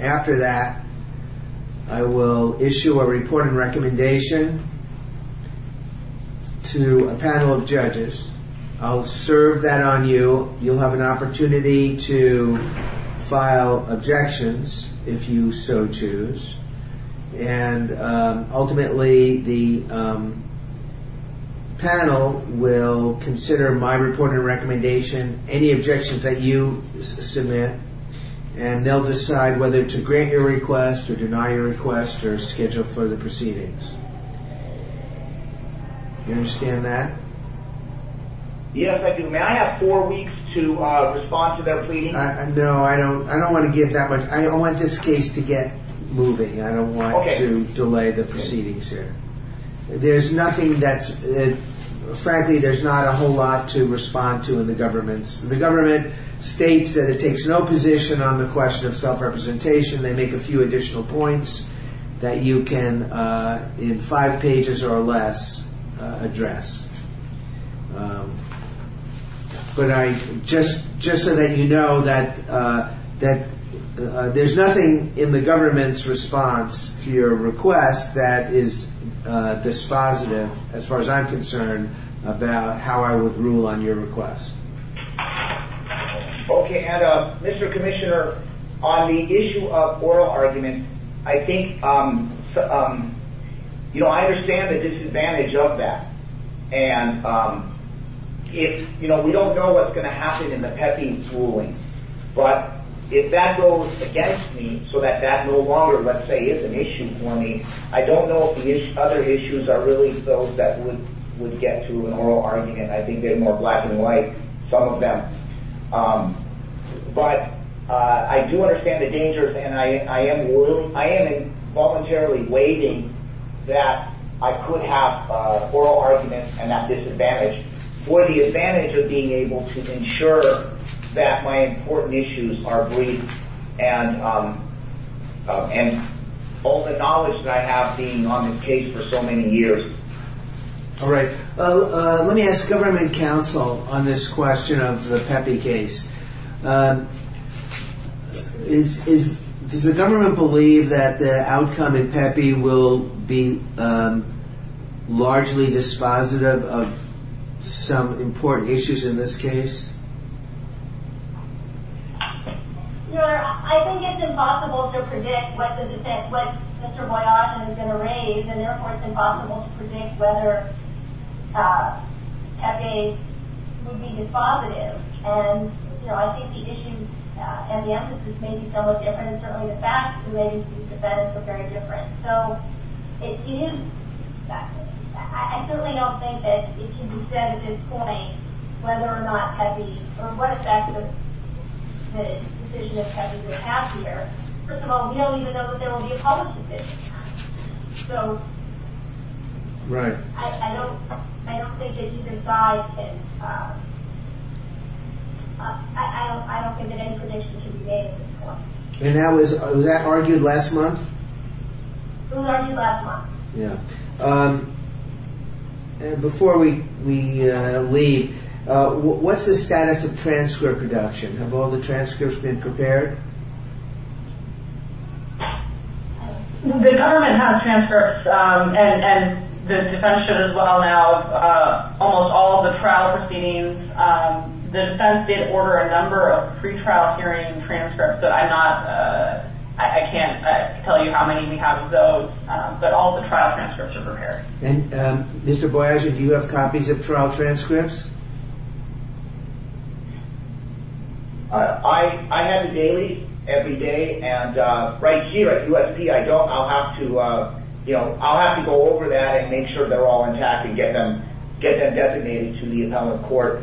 after that, I will issue a report and recommendation to a panel of judges. I'll serve that on you. You'll have an opportunity to file objections, if you so choose. And ultimately, the panel will consider my report and recommendation, any objections that you submit, and they'll decide whether to grant your request or deny your request or schedule further proceedings. You understand that? Yes, I do. May I have four weeks to respond to their pleading? No, I don't want to give that much. I want this case to get moving. I don't want to delay the proceedings here. There's nothing that's, frankly, there's not a whole lot to respond to in the governments. The government states that it takes no position on the question of self-representation. They make a few additional points that you can, in five pages or less, address. But I, just so that you know, that there's nothing in the government's response to your request that is dispositive, as far as I'm concerned, about how I would rule on your request. Okay, and Mr. Commissioner, on the issue of oral argument, and I think, you know, I understand the disadvantage of that. And if, you know, we don't know what's going to happen in the PEPI ruling, but if that goes against me so that that no longer, let's say, is an issue for me, I don't know if the other issues are really those that would get to an oral argument. I think they're more black and white, some of them. But I do understand the dangers, and I am voluntarily waiting that I could have oral arguments and that disadvantage for the advantage of being able to ensure that my important issues are brief. And all the knowledge that I have being on this case for so many years. All right, let me ask government counsel on this question of the PEPI case. Does the government believe that the outcome in PEPI will be largely dispositive of some important issues in this case? Your Honor, I think it's impossible to predict what Mr. Boyajian is going to raise, and therefore it's impossible to predict whether PEPI would be dispositive. And I think the issue and the emphasis may be somewhat different, and certainly the facts relating to these events are very different. So it is factually different. I certainly don't think that it can be said at this point whether or not PEPI, or what effect the position of PEPI would have here. First of all, we don't even know that there will be a public position. So... Right. I don't think that even by his... I don't think that any prediction should be made at this point. And was that argued last month? It was argued last month. Before we leave, what's the status of transcript production? Have all the transcripts been prepared? The government has transcripts, and the defense should as well now. Almost all of the trial proceedings, the defense did order a number of pre-trial hearing transcripts, but I'm not... I can't tell you how many we have of those, but all the trial transcripts are prepared. And Mr. Boyajian, do you have copies of trial transcripts? I have it daily, every day, and right here at USP, I don't. I'll have to, you know, I'll have to go over that and make sure they're all intact and get them designated to the appellate court.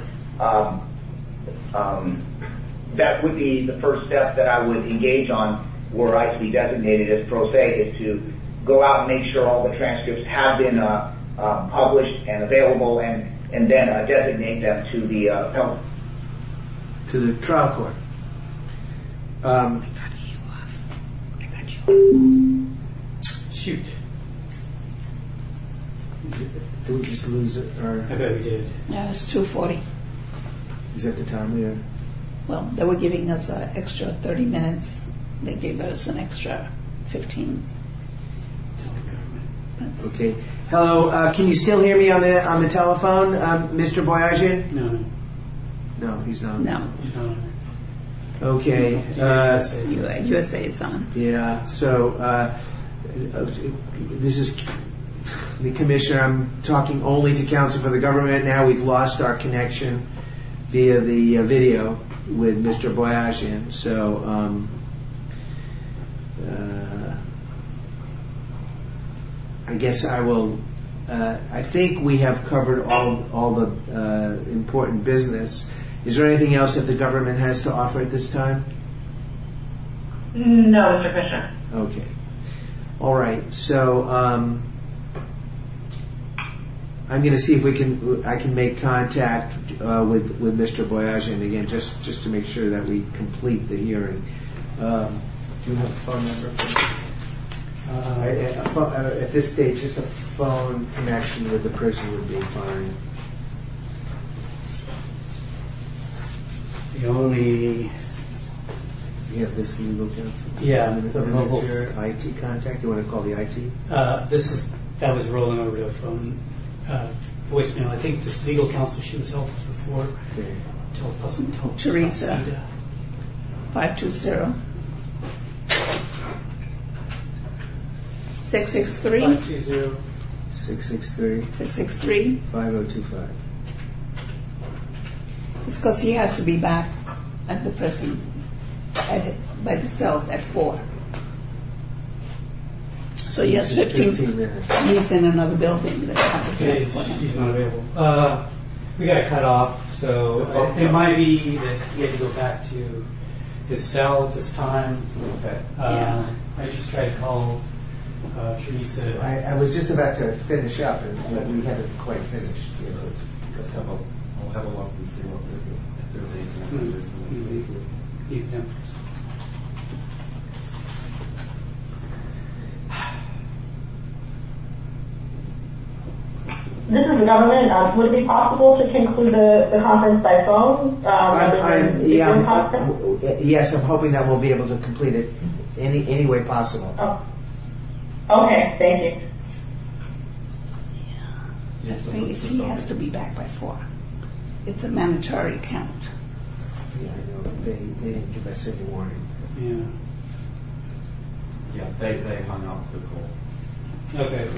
That would be the first step that I would engage on were I to be designated as pro se, is to go out and make sure all the transcripts have been published and available and then designate them to the appellate court. To the trial court. I got you off. I got you off. Shoot. Did we just lose our... I bet we did. No, it's 2.40. Is that the time we are... Well, they were giving us an extra 30 minutes. They gave us an extra 15. Okay. Hello, can you still hear me on the telephone? Is he on, Mr. Boyajian? No. No, he's not. No. Okay. USA is on. Yeah, so... This is the commission. I'm talking only to counsel for the government. Now we've lost our connection via the video with Mr. Boyajian, so... I guess I will... I think we have covered all the important business. Is there anything else that the government has to offer at this time? No, Mr. Bishop. Okay. All right, so... I'm going to see if I can make contact with Mr. Boyajian again just to make sure that we complete the hearing. Do you have a phone number? At this stage, just a phone connection with the person would be fine. The only... Do you have this legal counsel? Yeah, the mobile... IT contact? You want to call the IT? This is... That was rolling on a real phone. Voicemail. I think this legal counsel, she was on before. Okay. Teresa. 520. 663. 520. 663. 663. 5025. It's because he has to be back at the prison by the cells at 4. So he has 15 minutes. He's in another building. Okay, he's not available. We got to cut off, so... It might be that he had to go back to his cell at this time. Okay. I just tried to call Teresa. I was just about to finish up but we haven't quite finished yet. I'll have a look and see what we can do. This is the government. Would it be possible to conclude the conference by phone? Yes, I'm hoping that we'll be able to complete it in any way possible. Okay, thank you. He has to be back by 4. It's a mandatory count. Yeah, I know. They didn't give us any warning. Yeah. Yeah, they hung up the call. Okay. All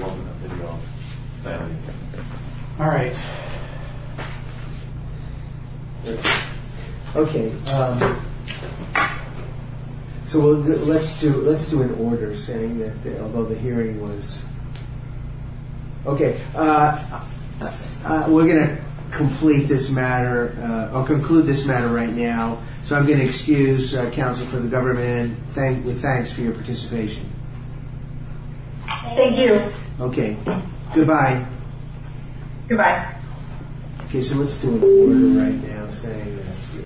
right. All right. Okay. So let's do an order saying that the hearing was... Okay. We're going to complete this matter. I'll conclude this matter right now. So I'm going to excuse counsel for the government with thanks for your participation. Thank you. Okay. Goodbye. Goodbye. Okay, so let's do an order right now saying that...